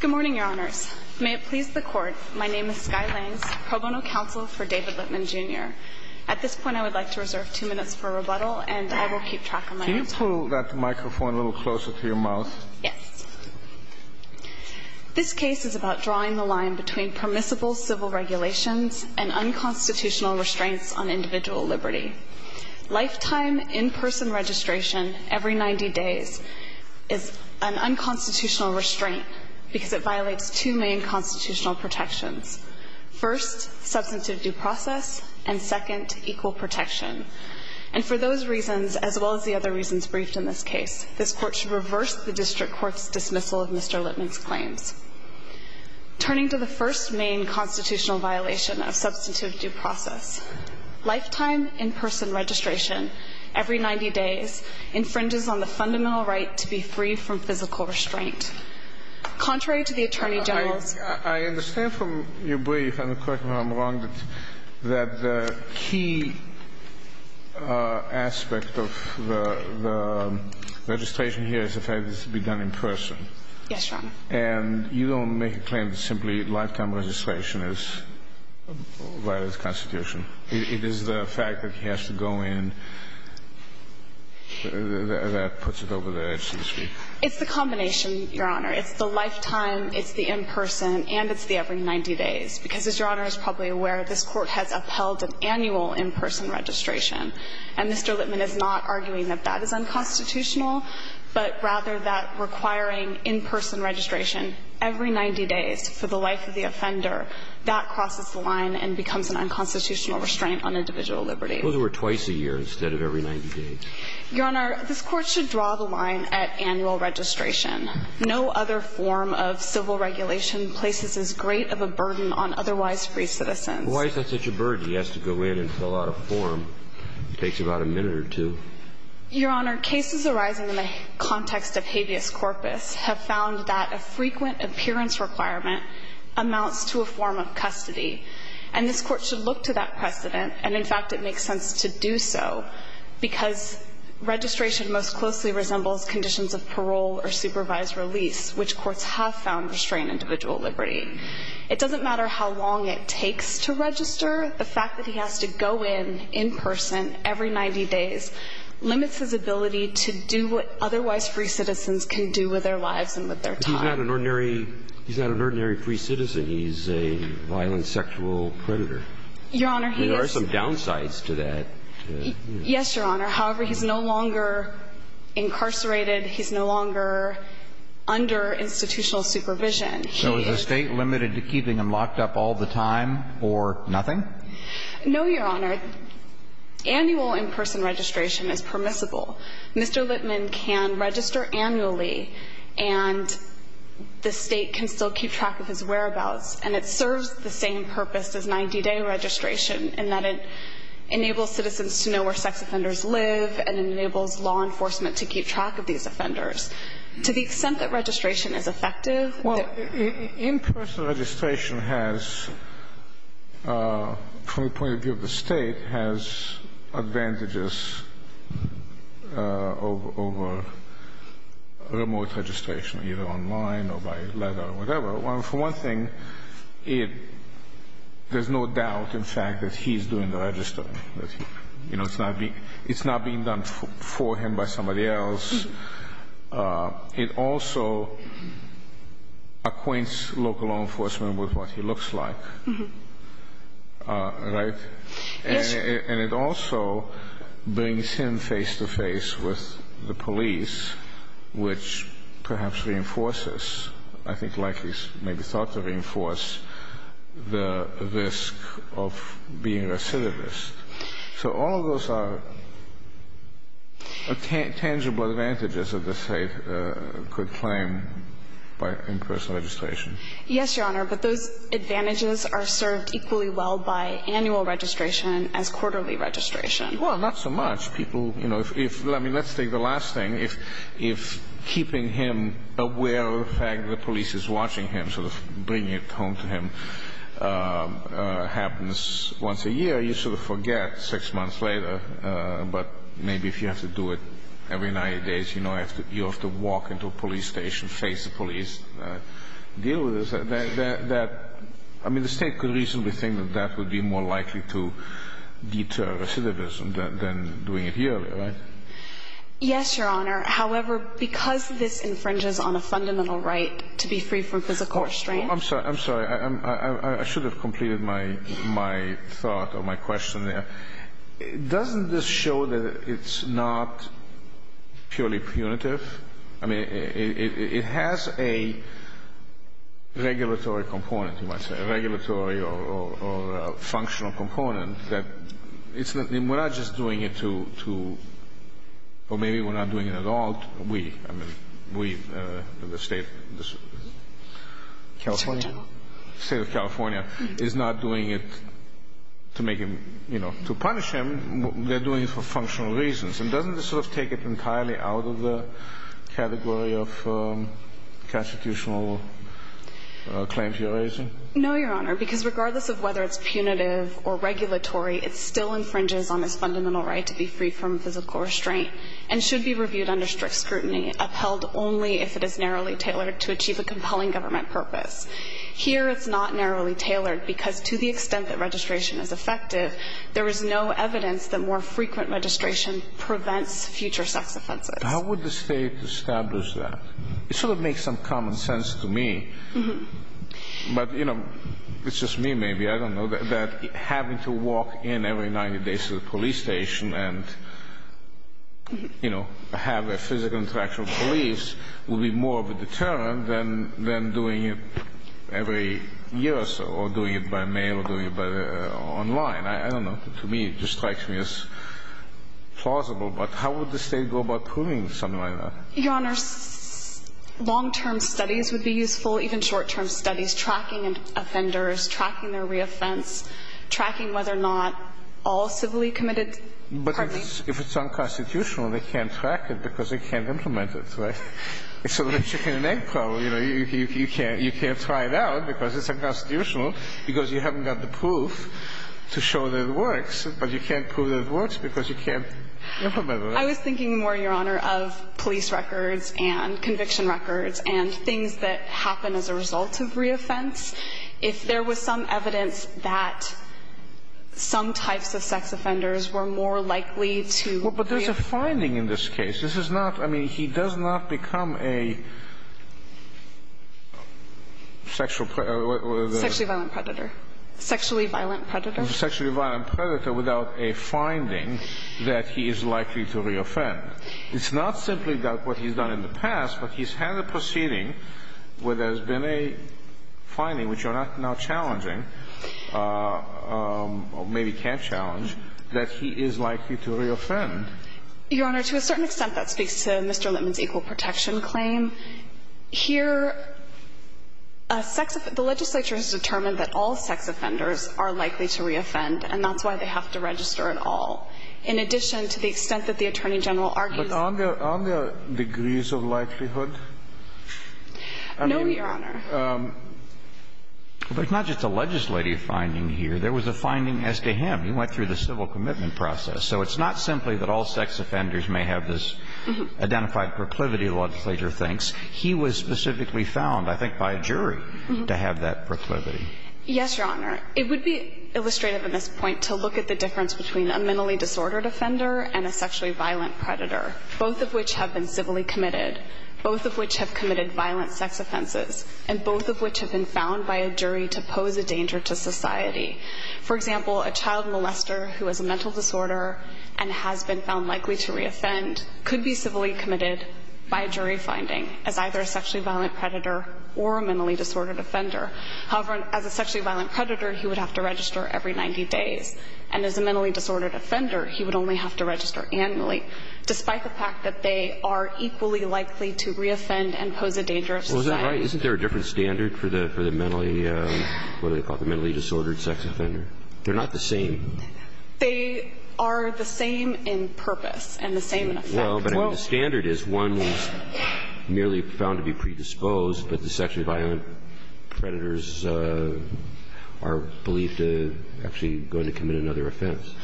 Good morning, Your Honors. May it please the Court, my name is Skye Langs, Pro Bono Counsel for David Litmon, Jr. At this point, I would like to reserve two minutes for rebuttal, and I will keep track of my time. Can you pull that microphone a little closer to your mouth? Yes. This case is about drawing the line between permissible civil regulations and unconstitutional restraints on individual liberty. Lifetime in-person registration every 90 days is an unconstitutional restraint because it violates two main constitutional protections. First, substantive due process, and second, equal protection. And for those reasons, as well as the other reasons briefed in this case, this Court should reverse the District Court's dismissal of Mr. Litmon's claims. Turning to the first main constitutional violation of substantive due process, lifetime in-person registration every 90 days infringes on the fundamental right to be free from physical restraint. Contrary to the Attorney General's ---- I understand from your brief, and correct me if I'm wrong, that the key aspect of the registration here is the fact that this is to be done in person. Yes, Your Honor. And you don't make a claim that simply lifetime registration violates the Constitution. It is the fact that he has to go in that puts it over the edge, so to speak. It's the combination, Your Honor. It's the lifetime, it's the in-person, and it's the every 90 days, because as Your Honor is probably aware, this Court has upheld an annual in-person registration. And Mr. Litmon is not arguing that that is unconstitutional, but rather that requiring in-person registration every 90 days for the life of the offender, that crosses the line and becomes an unconstitutional restraint on individual liberty. Those were twice a year instead of every 90 days. Your Honor, this Court should draw the line at annual registration. No other form of civil regulation places as great of a burden on otherwise free citizens. Why is that such a burden? He has to go in and fill out a form. It takes about a minute or two. Your Honor, cases arising in the context of habeas corpus have found that a frequent appearance requirement amounts to a form of custody. And this Court should look to that precedent, and in fact, it makes sense to do so, because registration most closely resembles conditions of parole or supervised release, which courts have found restrain individual liberty. It doesn't matter how long it takes to register. The fact that he has to go in, in person, every 90 days limits his ability to do what otherwise free citizens can do with their lives and with their time. But he's not an ordinary free citizen. He's a violent sexual predator. Your Honor, he is. There are some downsides to that. Yes, Your Honor. However, he's no longer incarcerated. He's no longer under institutional supervision. So is the State limited to keeping him locked up all the time or nothing? No, Your Honor. Annual in-person registration is permissible. Mr. Lippman can register annually, and the State can still keep track of his whereabouts. And it serves the same purpose as 90-day registration in that it enables citizens to know where sex offenders live and it enables law enforcement to keep track of these offenders. To the extent that registration is effective. Well, in-person registration has, from the point of view of the State, has advantages over remote registration, either online or by letter or whatever. For one thing, there's no doubt, in fact, that he's doing the registering. You know, it's not being done for him by somebody else. It also acquaints local law enforcement with what he looks like. Right? Yes. And it also brings him face-to-face with the police, which perhaps reinforces, I think like he's maybe thought to reinforce, the risk of being a syphilis. So all of those are tangible advantages that the State could claim by in-person registration. Yes, Your Honor, but those advantages are served equally well by annual registration as quarterly registration. Well, not so much. I mean, let's take the last thing. If keeping him aware of the fact that the police is watching him, sort of bringing it home to him, happens once a year, you sort of forget six months later. But maybe if you have to do it every 90 days, you know, you have to walk into a police station, face the police, deal with this. I mean, the State could reasonably think that that would be more likely to deter recidivism than doing it yearly, right? Yes, Your Honor. However, because this infringes on a fundamental right to be free from physical restraint. I'm sorry. I'm sorry. I should have completed my thought or my question there. Doesn't this show that it's not purely punitive? I mean, it has a regulatory component, you might say, a regulatory or functional component. We're not just doing it to or maybe we're not doing it at all. We, I mean, we, the State of California, is not doing it to make him, you know, to punish him. They're doing it for functional reasons. And doesn't this sort of take it entirely out of the category of constitutional claims you're raising? No, Your Honor, because regardless of whether it's punitive or regulatory, it still infringes on this fundamental right to be free from physical restraint and should be reviewed under strict scrutiny, upheld only if it is narrowly tailored to achieve a compelling government purpose. Here it's not narrowly tailored because to the extent that registration is effective, there is no evidence that more frequent registration prevents future sex offenses. How would the State establish that? It sort of makes some common sense to me. But, you know, it's just me maybe. I don't know that having to walk in every 90 days to the police station and, you know, have a physical interaction with police would be more of a deterrent than doing it every year or so or doing it by mail or doing it online. I don't know. To me, it just strikes me as plausible. But how would the State go about proving something like that? Your Honor, long-term studies would be useful, even short-term studies, tracking offenders, tracking their reoffense, tracking whether or not all civilly committed. But if it's unconstitutional, they can't track it because they can't implement it, right? It's a little chicken and egg problem. You know, you can't try it out because it's unconstitutional because you haven't got the proof to show that it works, but you can't prove that it works because you can't implement it. I was thinking more, Your Honor, of police records and conviction records and things that happen as a result of reoffense. If there was some evidence that some types of sex offenders were more likely to reoffend. Well, but there's a finding in this case. This is not – I mean, he does not become a sexual – Sexually violent predator. Sexually violent predator. A sexually violent predator without a finding that he is likely to reoffend. It's not simply about what he's done in the past, but he's had a proceeding where there's been a finding, which you're not now challenging, or maybe can challenge, that he is likely to reoffend. Your Honor, to a certain extent, that speaks to Mr. Lippman's equal protection claim. Here, a sex – the legislature has determined that all sex offenders are likely to reoffend, and that's why they have to register it all. In addition, to the extent that the Attorney General argues – But aren't there – aren't there degrees of likelihood? No, Your Honor. There's not just a legislative finding here. There was a finding as to him. He went through the civil commitment process. So it's not simply that all sex offenders may have this identified proclivity that the legislature thinks. He was specifically found, I think, by a jury to have that proclivity. Yes, Your Honor. It would be illustrative at this point to look at the difference between a mentally disordered offender and a sexually violent predator, both of which have been civilly committed, both of which have committed violent sex offenses, and both of which have been found by a jury to pose a danger to society. For example, a child molester who has a mental disorder and has been found likely to reoffend could be civilly committed by a jury finding as either a sexually violent predator or a mentally disordered offender. However, as a sexually violent predator, he would have to register every 90 days. And as a mentally disordered offender, he would only have to register annually, despite the fact that they are equally likely to reoffend and pose a danger to society. Well, is that right? Isn't there a different standard for the mentally – what do they call it – the mentally disordered sex offender? They're not the same. They are the same in purpose and the same in effect. Well, but I mean, the standard is one is merely found to be predisposed, but the sexually violent predators are believed to actually going to commit another offense.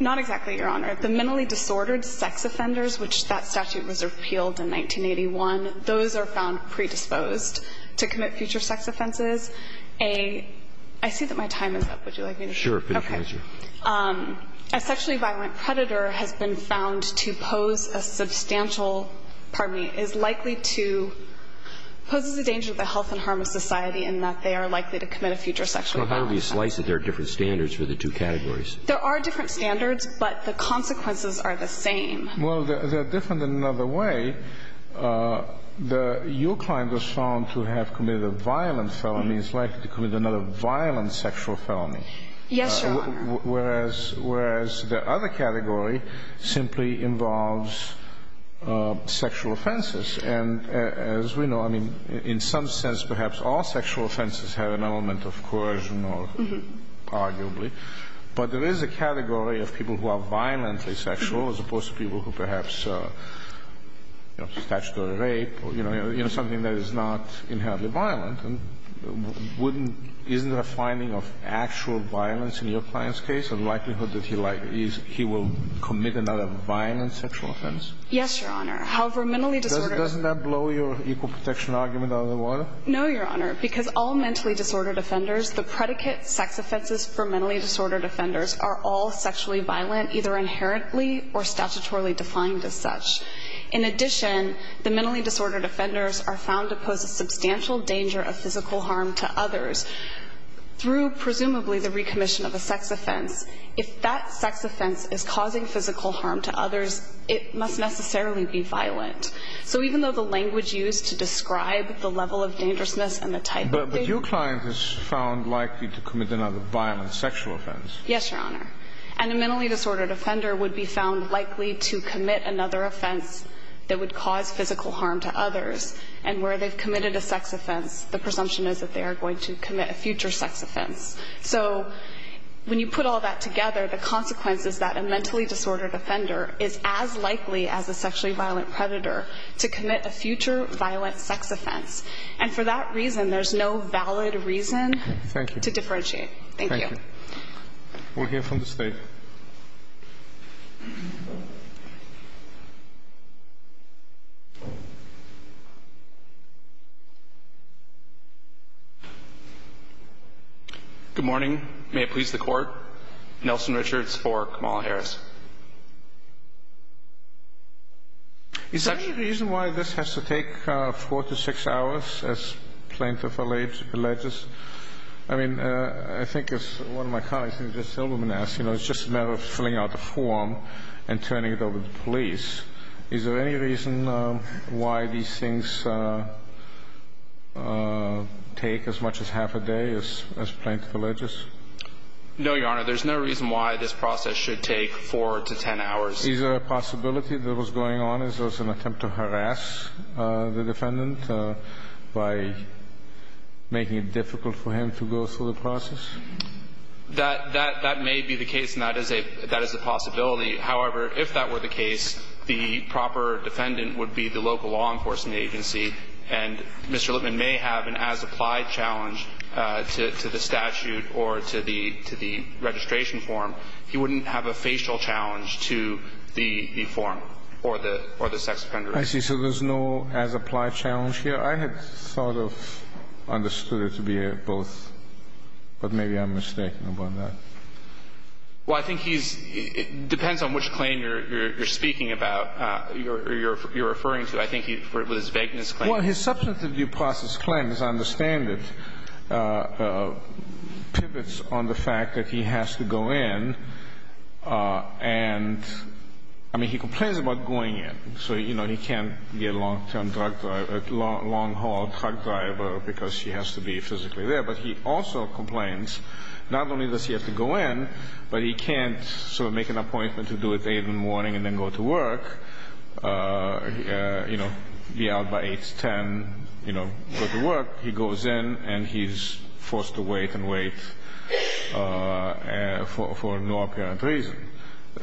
Not exactly, Your Honor. The mentally disordered sex offenders, which that statute was repealed in 1981, those are found predisposed to commit future sex offenses. A – I see that my time is up. Would you like me to finish? Okay. A sexually violent predator has been found to pose a substantial – pardon me – is likely to – poses a danger to the health and harm of society in that they are likely to commit a future sexual offense. Well, how do we slice it? There are different standards for the two categories. There are different standards, but the consequences are the same. Well, they're different in another way. Your client was found to have committed a violent felony. He's likely to commit another violent sexual felony. Yes, Your Honor. Whereas the other category simply involves sexual offenses. And as we know, I mean, in some sense perhaps all sexual offenses have an element of coercion or – arguably. But there is a category of people who are violently sexual as opposed to people who perhaps, you know, statutory rape or, you know, something that is not inherently violent. Wouldn't – isn't there a finding of actual violence in your client's case, a likelihood that he will commit another violent sexual offense? Yes, Your Honor. However, mentally disordered – Doesn't that blow your equal protection argument out of the water? No, Your Honor. Because all mentally disordered offenders, the predicate sex offenses for mentally disordered offenders are all sexually violent, either inherently or statutorily defined as such. In addition, the mentally disordered offenders are found to pose a substantial danger of physical harm to others through presumably the recommission of a sex offense. If that sex offense is causing physical harm to others, it must necessarily be violent. So even though the language used to describe the level of dangerousness and the type of – But your client is found likely to commit another violent sexual offense. Yes, Your Honor. And a mentally disordered offender would be found likely to commit another offense that would cause physical harm to others. And where they've committed a sex offense, the presumption is that they are going to commit a future sex offense. So when you put all that together, the consequence is that a mentally disordered offender is as likely as a sexually violent predator to commit a future violent sex offense. And for that reason, there's no valid reason to differentiate. Thank you. Thank you. We'll hear from the State. Good morning. May it please the Court. Nelson Richards for Kamala Harris. Is there any reason why this has to take four to six hours, as plaintiff alleges? I mean, I think as one of my colleagues in this room has asked, you know, it's just a matter of time. It's a matter of filling out the form and turning it over to the police. Is there any reason why these things take as much as half a day, as plaintiff alleges? No, Your Honor. There's no reason why this process should take four to ten hours. Is there a possibility that was going on? Is this an attempt to harass the defendant by making it difficult for him to go through the process? That may be the case, and that is a possibility. However, if that were the case, the proper defendant would be the local law enforcement agency, and Mr. Lippman may have an as-applied challenge to the statute or to the registration form. He wouldn't have a facial challenge to the form or the sex offender. I see. So there's no as-applied challenge here. I had sort of understood it to be both, but maybe I'm mistaken about that. Well, I think he's ‑‑ depends on which claim you're speaking about or you're referring to. I think with his vagueness claim. Well, his substantive due process claim, as I understand it, pivots on the fact that he has to go in, and, I mean, he complains about going in. So, you know, he can't be a long‑term drug driver, a long‑haul drug driver because he has to be physically there. But he also complains not only does he have to go in, but he can't sort of make an appointment to do it at 8 in the morning and then go to work, you know, be out by 8, 10, you know, go to work. He goes in, and he's forced to wait and wait for no apparent reason.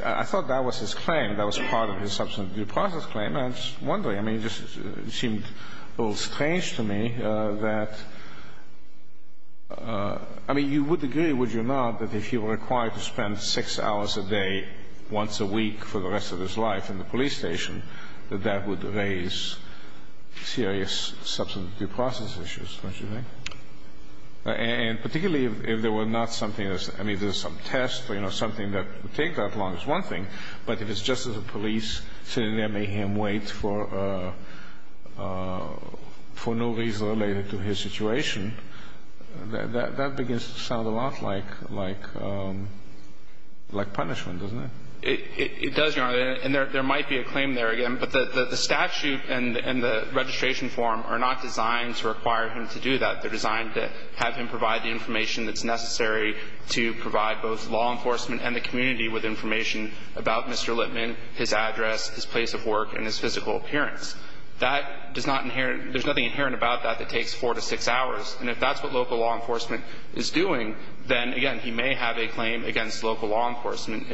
I thought that was his claim. That was part of his substantive due process claim. I'm just wondering. I mean, it just seemed a little strange to me that, I mean, you would agree, would you not, that if he were required to spend six hours a day once a week for the rest of his life in the police station, that that would raise serious substantive due process issues, don't you think? And particularly if there were not something that's ‑‑ I mean, there's some tests, you know, something that would take that long is one thing, but if it's just as a police sitting there making him wait for no reason related to his situation, that begins to sound a lot like punishment, doesn't it? It does, Your Honor, and there might be a claim there again, but the statute and the registration form are not designed to require him to do that. They're designed to have him provide the information that's necessary to provide both law enforcement and the community with information about Mr. Lippman, his address, his place of work, and his physical appearance. That does not ‑‑ there's nothing inherent about that that takes four to six hours, and if that's what local law enforcement is doing, then, again, he may have a claim against local law enforcement,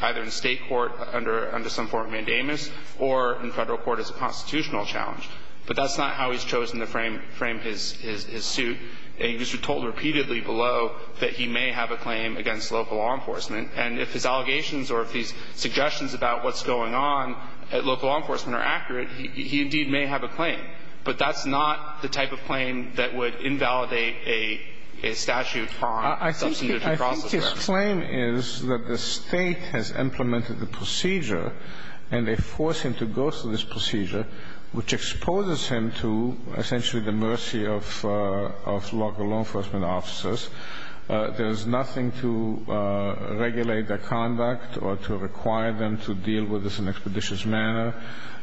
either in state court under some form of mandamus or in federal court as a constitutional challenge. But that's not how he's chosen to frame his suit. He was told repeatedly below that he may have a claim against local law enforcement, and if his allegations or if his suggestions about what's going on at local law enforcement are accurate, he indeed may have a claim. But that's not the type of claim that would invalidate a statute on substantive process. I think his claim is that the State has implemented the procedure and they force him to go through this procedure, which exposes him to essentially the mercy of local law enforcement officers. There's nothing to regulate their conduct or to require them to deal with this in an expeditious manner,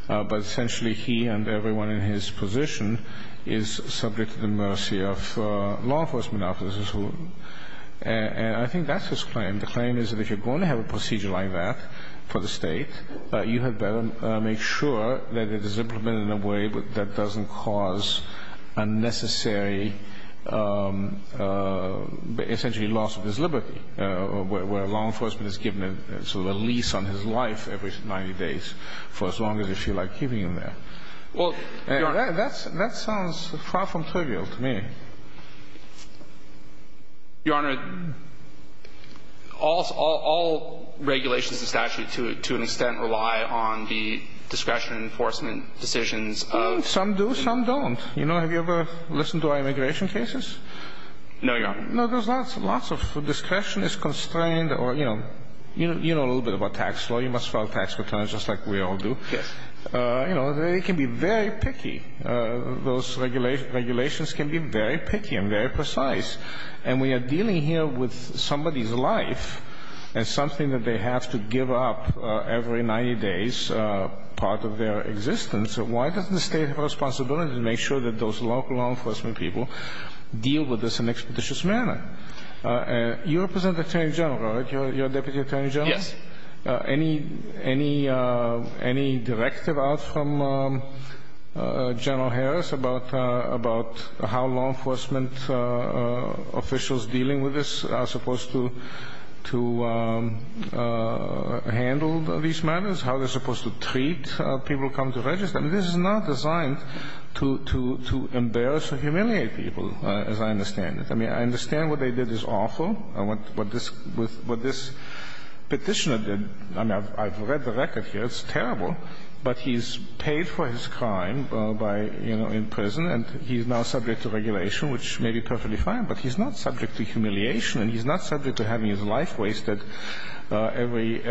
but essentially he and everyone in his position is subject to the mercy of law enforcement officers. And I think that's his claim. The claim is that if you're going to have a procedure like that for the State, you had better make sure that it is implemented in a way that doesn't cause unnecessary essentially loss of his liberty, where law enforcement is given sort of a lease on his life every 90 days for as long as they feel like keeping him there. Well, Your Honor. That sounds far from trivial to me. Your Honor, all regulations in statute to an extent rely on the discretion enforcement decisions of the State. Some do, some don't. You know, have you ever listened to our immigration cases? No, Your Honor. No, there's not. Lots of discretion is constrained or, you know, you know a little bit about tax law. You must file tax returns just like we all do. Yes. You know, they can be very picky. Those regulations can be very picky and very precise. And we are dealing here with somebody's life and something that they have to give up every 90 days, part of their existence. Why doesn't the State have a responsibility to make sure that those local law enforcement people deal with this in an expeditious manner? You represent the Attorney General, right? You're a Deputy Attorney General? Yes. Any directive out from General Harris about how law enforcement officials dealing with this are supposed to handle these matters, how they're supposed to treat people who come to register? I mean, this is not designed to embarrass or humiliate people, as I understand it. I mean, I understand what they did is awful. What this Petitioner did, I mean, I've read the record here. It's terrible. But he's paid for his crime by, you know, in prison, and he's now subject to regulation, which may be perfectly fine. But he's not subject to humiliation, and he's not subject to having his life wasted every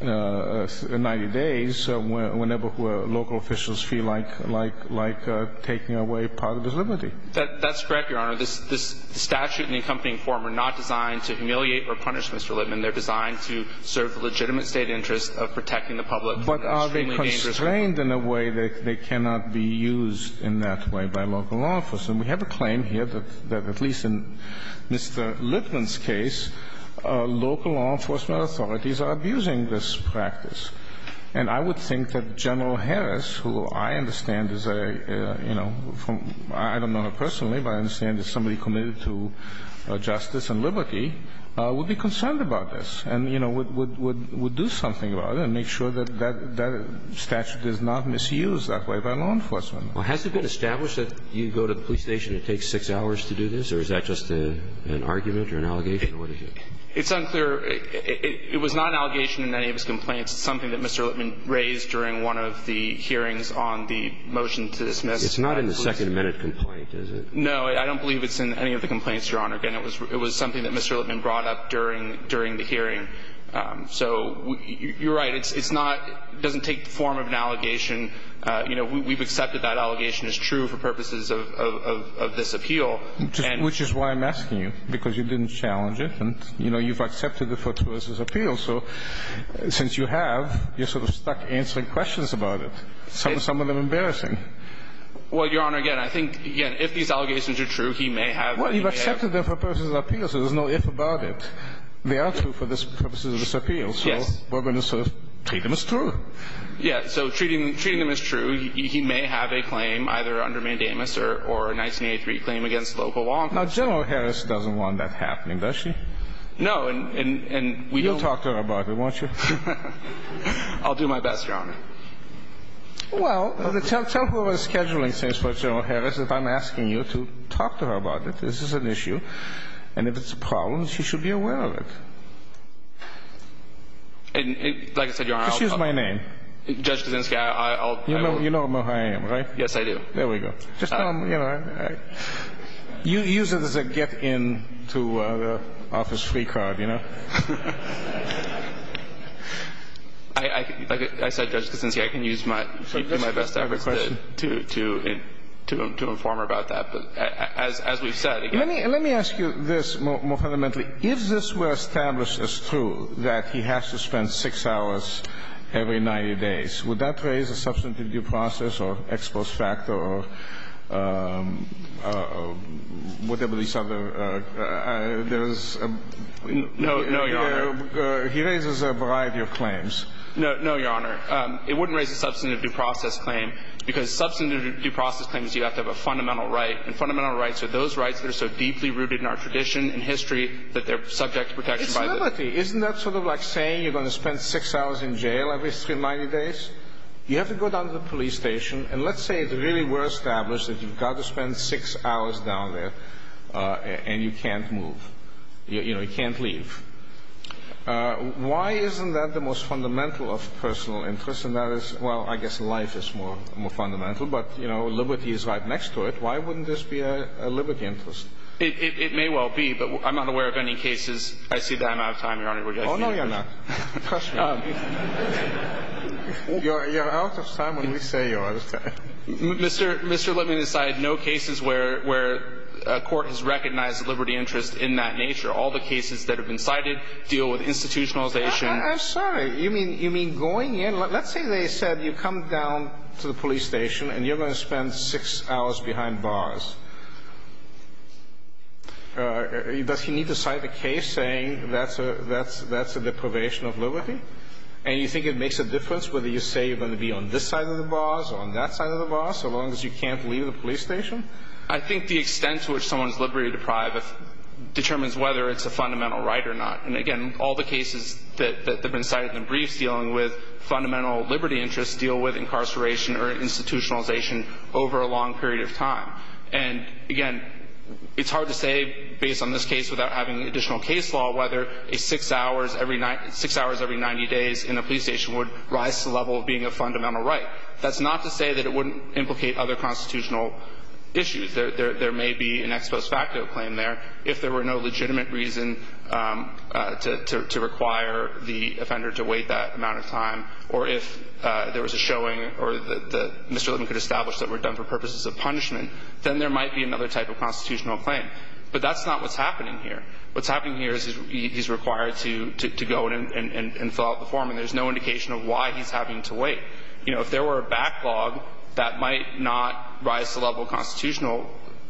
90 days whenever local officials feel like taking away part of his liberty. That's correct, Your Honor. This statute and the accompanying form are not designed to humiliate or punish Mr. Littman. They're designed to serve the legitimate State interest of protecting the public from extremely dangerous crime. But are they constrained in a way that they cannot be used in that way by local law enforcement? We have a claim here that at least in Mr. Littman's case, local law enforcement authorities are abusing this practice. And I would think that General Harris, who I understand is a, you know, I don't know her personally, but I understand is somebody committed to justice and liberty, would be concerned about this and, you know, would do something about it and make sure that that statute is not misused that way by law enforcement. Well, has it been established that you go to the police station, it takes six hours to do this, or is that just an argument or an allegation? It's unclear. It was not an allegation in any of his complaints. It's something that Mr. Littman raised during one of the hearings on the motion to dismiss. It's not in the second minute complaint, is it? No, I don't believe it's in any of the complaints, Your Honor. Again, it was something that Mr. Littman brought up during the hearing. So you're right. It's not – it doesn't take the form of an allegation. You know, we've accepted that allegation is true for purposes of this appeal. Which is why I'm asking you, because you didn't challenge it. And, you know, you've accepted the Fort Worth's appeal. So since you have, you're sort of stuck answering questions about it, some of them embarrassing. Well, Your Honor, again, I think, again, if these allegations are true, he may have – Well, you've accepted them for purposes of appeals. There's no if about it. They are true for purposes of this appeal. Yes. So we're going to sort of treat them as true. Yes. So treating them as true, he may have a claim either under mandamus or a 1983 claim against local law enforcement. Now, General Harris doesn't want that happening, does she? You'll talk to her about it, won't you? I'll do my best, Your Honor. Well, tell her what the scheduling says for General Harris. If I'm asking you to talk to her about it, this is an issue. And if it's a problem, she should be aware of it. Like I said, Your Honor, I'll – Just use my name. Judge Kaczynski, I'll – You know who I am, right? Yes, I do. There we go. Just, you know, use it as a get-in to the office free card, you know? Like I said, Judge Kaczynski, I can use my best efforts to inform her about that. But as we've said, again – Let me ask you this more fundamentally. If this were established as true, that he has to spend six hours every 90 days, would that raise a substantive due process or ex post facto or whatever these other – No, Your Honor. He raises a variety of claims. No, Your Honor. It wouldn't raise a substantive due process claim because substantive due process claims, you have to have a fundamental right. And fundamental rights are those rights that are so deeply rooted in our tradition and history that they're subject to protection by the – It's reality. Isn't that sort of like saying you're going to spend six hours in jail every 90 days? You have to go down to the police station, and let's say it really were established that you've got to spend six hours down there, and you can't move. You know, you can't leave. Why isn't that the most fundamental of personal interests? And that is – well, I guess life is more fundamental. But, you know, liberty is right next to it. Why wouldn't this be a liberty interest? It may well be, but I'm not aware of any cases – I see that I'm out of time, Your Honor. Oh, no, you're not. You're out of time when we say you are. Mr. – Mr., let me decide. No cases where a court has recognized a liberty interest in that nature. All the cases that have been cited deal with institutionalization. I'm sorry. You mean going in? Let's say they said you come down to the police station, and you're going to spend six hours behind bars. And you think it makes a difference whether you say you're going to be on this side of the bars or on that side of the bars, so long as you can't leave the police station? I think the extent to which someone is liberty deprived determines whether it's a fundamental right or not. And, again, all the cases that have been cited in the briefs dealing with fundamental liberty interests deal with incarceration or institutionalization over a long period of time. And, again, it's hard to say, based on this case without having additional case law, whether a six hours every 90 days in a police station would rise to the level of being a fundamental right. That's not to say that it wouldn't implicate other constitutional issues. There may be an ex post facto claim there. If there were no legitimate reason to require the offender to wait that amount of time, or if there was a showing or Mr. Levin could establish that were done for purposes of punishment, then there might be another type of constitutional claim. But that's not what's happening here. What's happening here is he's required to go in and fill out the form, and there's no indication of why he's having to wait. You know, if there were a backlog, that might not rise to the level of constitutional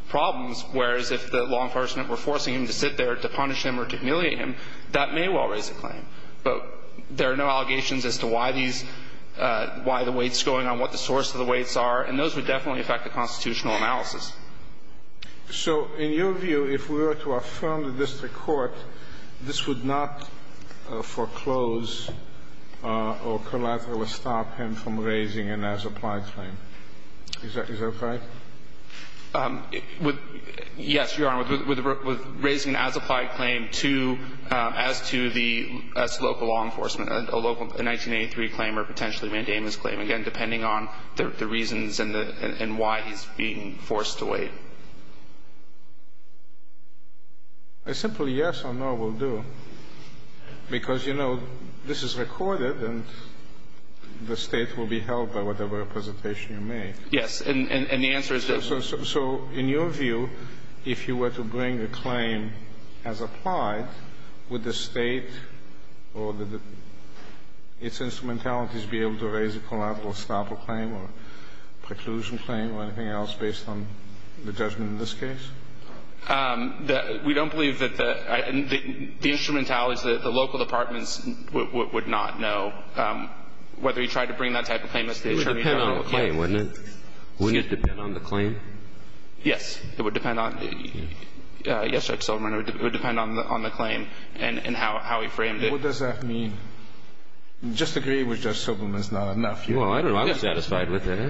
problems, whereas if the law enforcement were forcing him to sit there to punish him or to humiliate him, that may well raise a claim. But there are no allegations as to why these – why the wait's going on, what the source of the waits are, and those would definitely affect the constitutional analysis. So in your view, if we were to affirm the district court, this would not foreclose or collaterally stop him from raising an as-applied claim. Is that right? With – yes, Your Honor. With raising an as-applied claim to – as to the – as local law enforcement, a local 1983 claim or potentially mandamus claim, again, depending on the reasons and the – and why he's being forced to wait. A simple yes or no will do, because, you know, this is recorded, and the State will be held by whatever representation you make. Yes, and the answer is that – So in your view, if you were to bring a claim as applied, would the State or the – its conclusion claim or anything else based on the judgment in this case? The – we don't believe that the – the instrumentality is that the local departments would not know whether he tried to bring that type of claim. It would depend on the claim, wouldn't it? Wouldn't it depend on the claim? It would depend on – yes, Judge Silberman, it would depend on the claim and how he framed it. What does that mean? I just agree with Judge Silberman it's not enough. Well, I don't know. I'm satisfied with it. Well,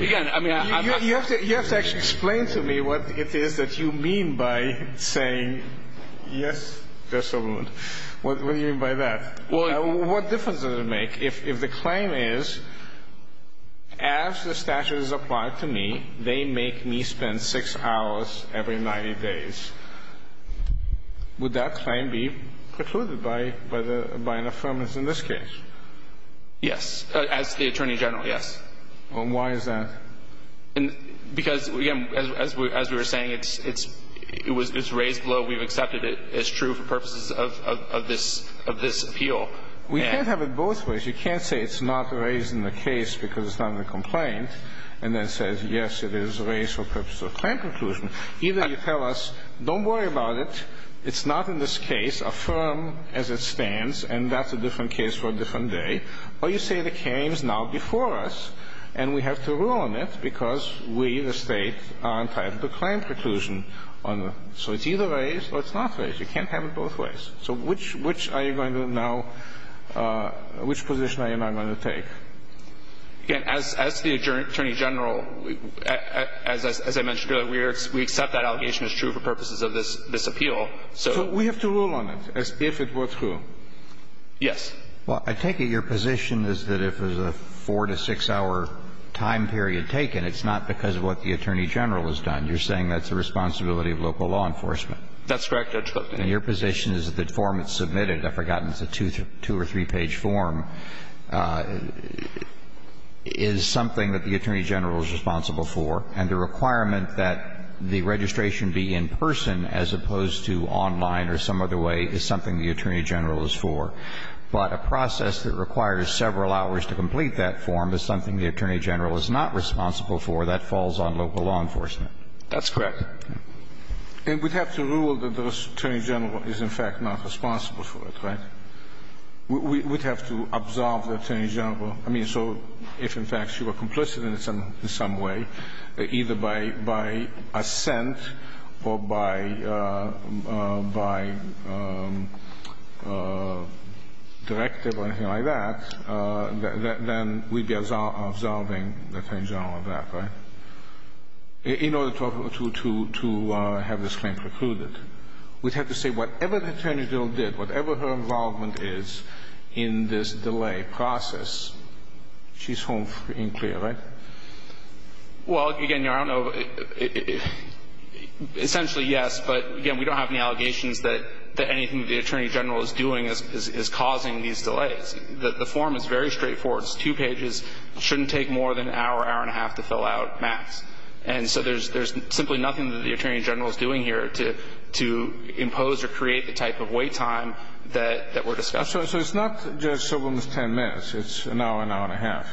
again, I mean, I'm not – You have to – you have to actually explain to me what it is that you mean by saying yes, Judge Silberman. What do you mean by that? What difference does it make if the claim is, as the statute is applied to me, they make me spend 6 hours every 90 days. Would that claim be precluded by – by an affirmance in this case? Yes. As the Attorney General, yes. And why is that? Because, again, as we were saying, it's – it was raised below we've accepted it as true for purposes of this – of this appeal. We can't have it both ways. You can't say it's not raised in the case because it's not in the complaint and then say, yes, it is raised for purposes of claim preclusion. Either you tell us, don't worry about it. It's not in this case. Affirm as it stands and that's a different case for a different day. Or you say the claim is now before us and we have to rule on it because we, the state, are entitled to claim preclusion on the – so it's either raised or it's not raised. You can't have it both ways. So which – which are you going to now – which position are you now going to take? Again, as – as the Attorney General, as I mentioned earlier, we accept that allegation is true for purposes of this – this appeal. So we have to rule on it if it were true. Yes. Well, I take it your position is that if it was a four- to six-hour time period taken, it's not because of what the Attorney General has done. You're saying that's the responsibility of local law enforcement. That's correct, Judge Clifton. And your position is that the form that's submitted – I've forgotten, it's a two- or three-page form – is something that the Attorney General is responsible for. And the requirement that the registration be in person as opposed to online or some other way is something the Attorney General is for. But a process that requires several hours to complete that form is something the Attorney General is not responsible for. That falls on local law enforcement. That's correct. And we'd have to rule that the Attorney General is, in fact, not responsible for it, right? We'd have to absolve the Attorney General. I mean, so if, in fact, she were complicit in some way, either by assent or by directive or anything like that, then we'd be absolving the Attorney General of that, right? In order to have this claim precluded. We'd have to say whatever the Attorney General did, whatever her involvement is in this delay process, she's home free and clear, right? Well, again, I don't know. Essentially, yes. But, again, we don't have any allegations that anything the Attorney General is doing is causing these delays. The form is very straightforward. It's two pages. It shouldn't take more than an hour, hour and a half to fill out, max. And so there's simply nothing that the Attorney General is doing here to impose or create the type of wait time that we're discussing. So it's not just someone's 10 minutes. It's an hour, an hour and a half.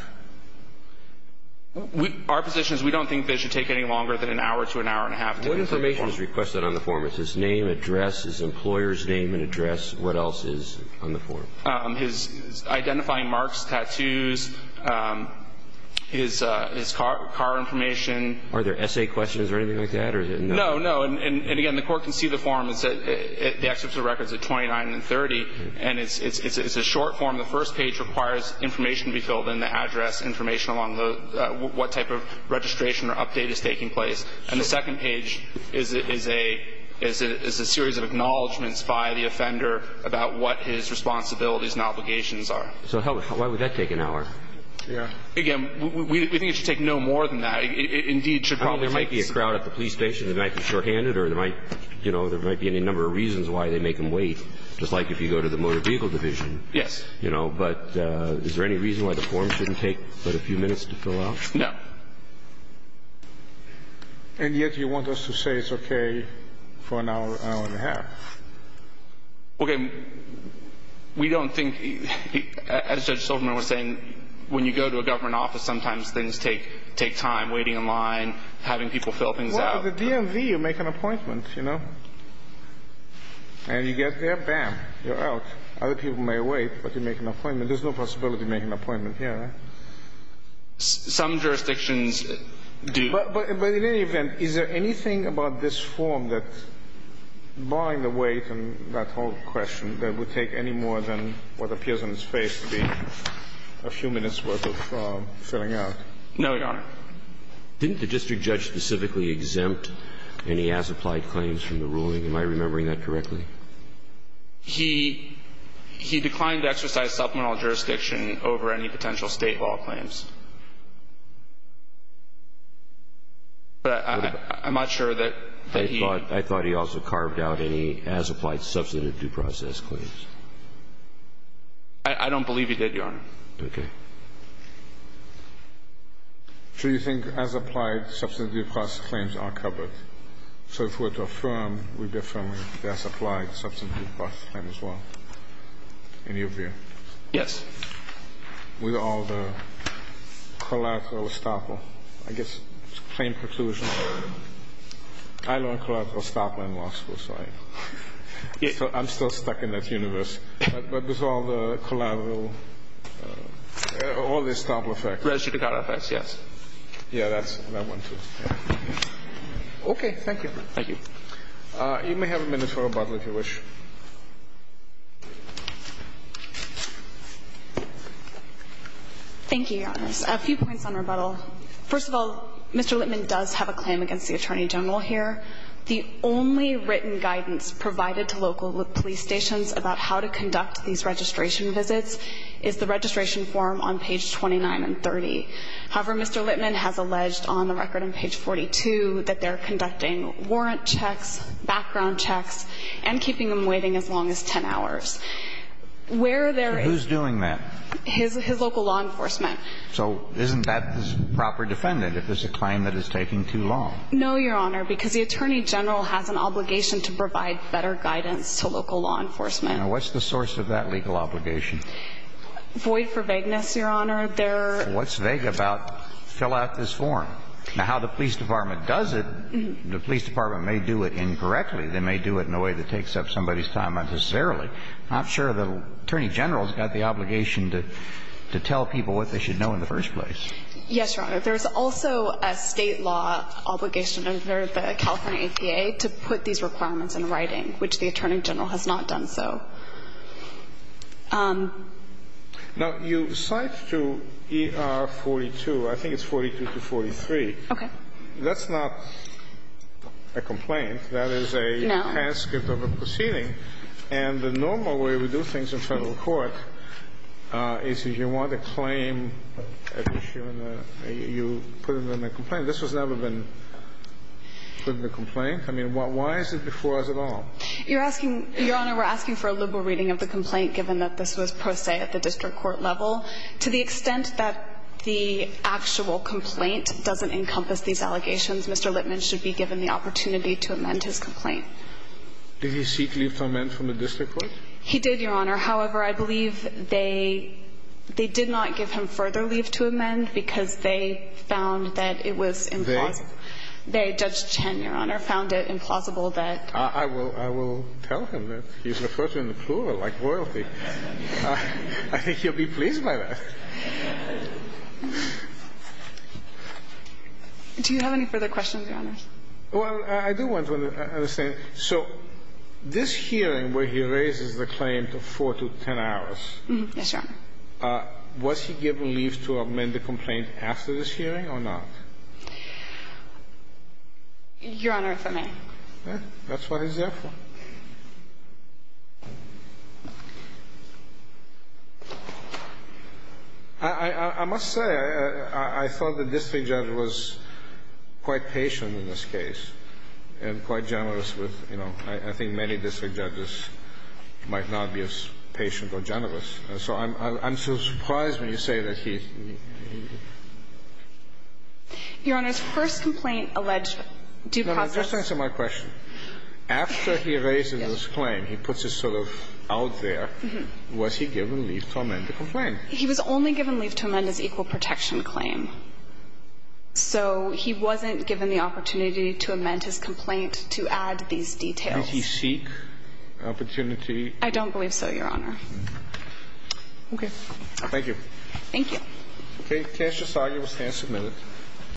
Our position is we don't think it should take any longer than an hour to an hour and a half. What information is requested on the form? Is his name, address, his employer's name and address? What else is on the form? His identifying marks, tattoos, his car information. Are there essay questions or anything like that? No, no. And, again, the Court can see the form. The excerpt of the record is at 29 and 30, and it's a short form. The first page requires information to be filled in, the address, information along what type of registration or update is taking place. And the second page is a series of acknowledgments by the offender about what his responsibilities and obligations are. So why would that take an hour? Yeah. Again, we think it should take no more than that. Indeed, it should probably take some. There might be a crowd at the police station that might be shorthanded, or there might be any number of reasons why they make him wait, just like if you go to the motor vehicle division. Yes. But is there any reason why the form shouldn't take but a few minutes to fill out? No. And yet you want us to say it's okay for an hour, hour and a half. Okay. We don't think, as Judge Silverman was saying, when you go to a government office, sometimes things take time, waiting in line, having people fill things out. Well, at the DMV you make an appointment, you know, and you get there, bam, you're out. Other people may wait, but you make an appointment. There's no possibility of making an appointment here, right? Some jurisdictions do. But in any event, is there anything about this form that, barring the wait and that whole question, that would take any more than what appears on its face to be a few minutes' worth of filling out? No, Your Honor. Didn't the district judge specifically exempt any as-applied claims from the ruling? Am I remembering that correctly? He declined to exercise supplemental jurisdiction over any potential State law claims. But I'm not sure that he ---- I thought he also carved out any as-applied substantive due process claims. I don't believe he did, Your Honor. Okay. So you think as-applied substantive due process claims are covered? So if we were to affirm, we'd be affirming the as-applied substantive due process claim as well, in your view? Yes. With all the collateral estoppel, I guess, claim preclusion. I learned collateral estoppel in law school, so I'm still stuck in that universe. But with all the collateral, all the estoppel effects. Residual effects, yes. Yeah, that one too. Okay. Thank you. You may have a minute for rebuttal, if you wish. Thank you, Your Honors. A few points on rebuttal. First of all, Mr. Littman does have a claim against the Attorney General here. The only written guidance provided to local police stations about how to conduct these registration visits is the registration form on page 29 and 30. However, Mr. Littman has alleged on the record on page 42 that they're conducting warrant checks, background checks, and keeping them waiting as long as 10 hours. Where there is ---- His local law enforcement. So isn't that proper defendant if it's a claim that is taking too long? No, Your Honor, because the Attorney General has an obligation to provide better guidance to local law enforcement. Now, what's the source of that legal obligation? Void for vagueness, Your Honor. What's vague about fill out this form? Now, how the police department does it, the police department may do it incorrectly. They may do it in a way that takes up somebody's time unnecessarily. I'm sure the Attorney General has got the obligation to tell people what they should know in the first place. Yes, Your Honor. There is also a State law obligation under the California APA to put these requirements in writing, which the Attorney General has not done so. Now, you cite to ER 42, I think it's 42 to 43. Okay. That is a transcript of a proceeding. No. Okay. And the normal way we do things in Federal court is if you want a claim, you put it in a complaint. This has never been put in a complaint. I mean, why is it before us at all? Your Honor, we're asking for a liberal reading of the complaint, given that this was pro se at the district court level. To the extent that the actual complaint doesn't encompass these allegations, Mr. Lippman should be given the opportunity to amend his complaint. Did he seek leave to amend from the district court? He did, Your Honor. However, I believe they did not give him further leave to amend because they found that it was implausible. They? They, Judge Chen, Your Honor, found it implausible that. I will tell him that he's referred to in the plural like royalty. I think he'll be pleased by that. Do you have any further questions, Your Honor? Well, I do want to understand. So this hearing where he raises the claim to 4 to 10 hours. Yes, Your Honor. Was he given leave to amend the complaint after this hearing or not? Your Honor, if I may. That's what he's there for. I must say, I thought the district judge was quite patient in this case and quite generous with, you know, I think many district judges might not be as patient or generous. So I'm still surprised when you say that he. Your Honor, his first complaint alleged due process. Just answer my question. After he raises his claim, he puts it sort of out there. Was he given leave to amend the complaint? He was only given leave to amend his equal protection claim. So he wasn't given the opportunity to amend his complaint to add these details. Did he seek opportunity? I don't believe so, Your Honor. Okay. Thank you. Thank you. Okay. Case just argued. We'll stand a minute.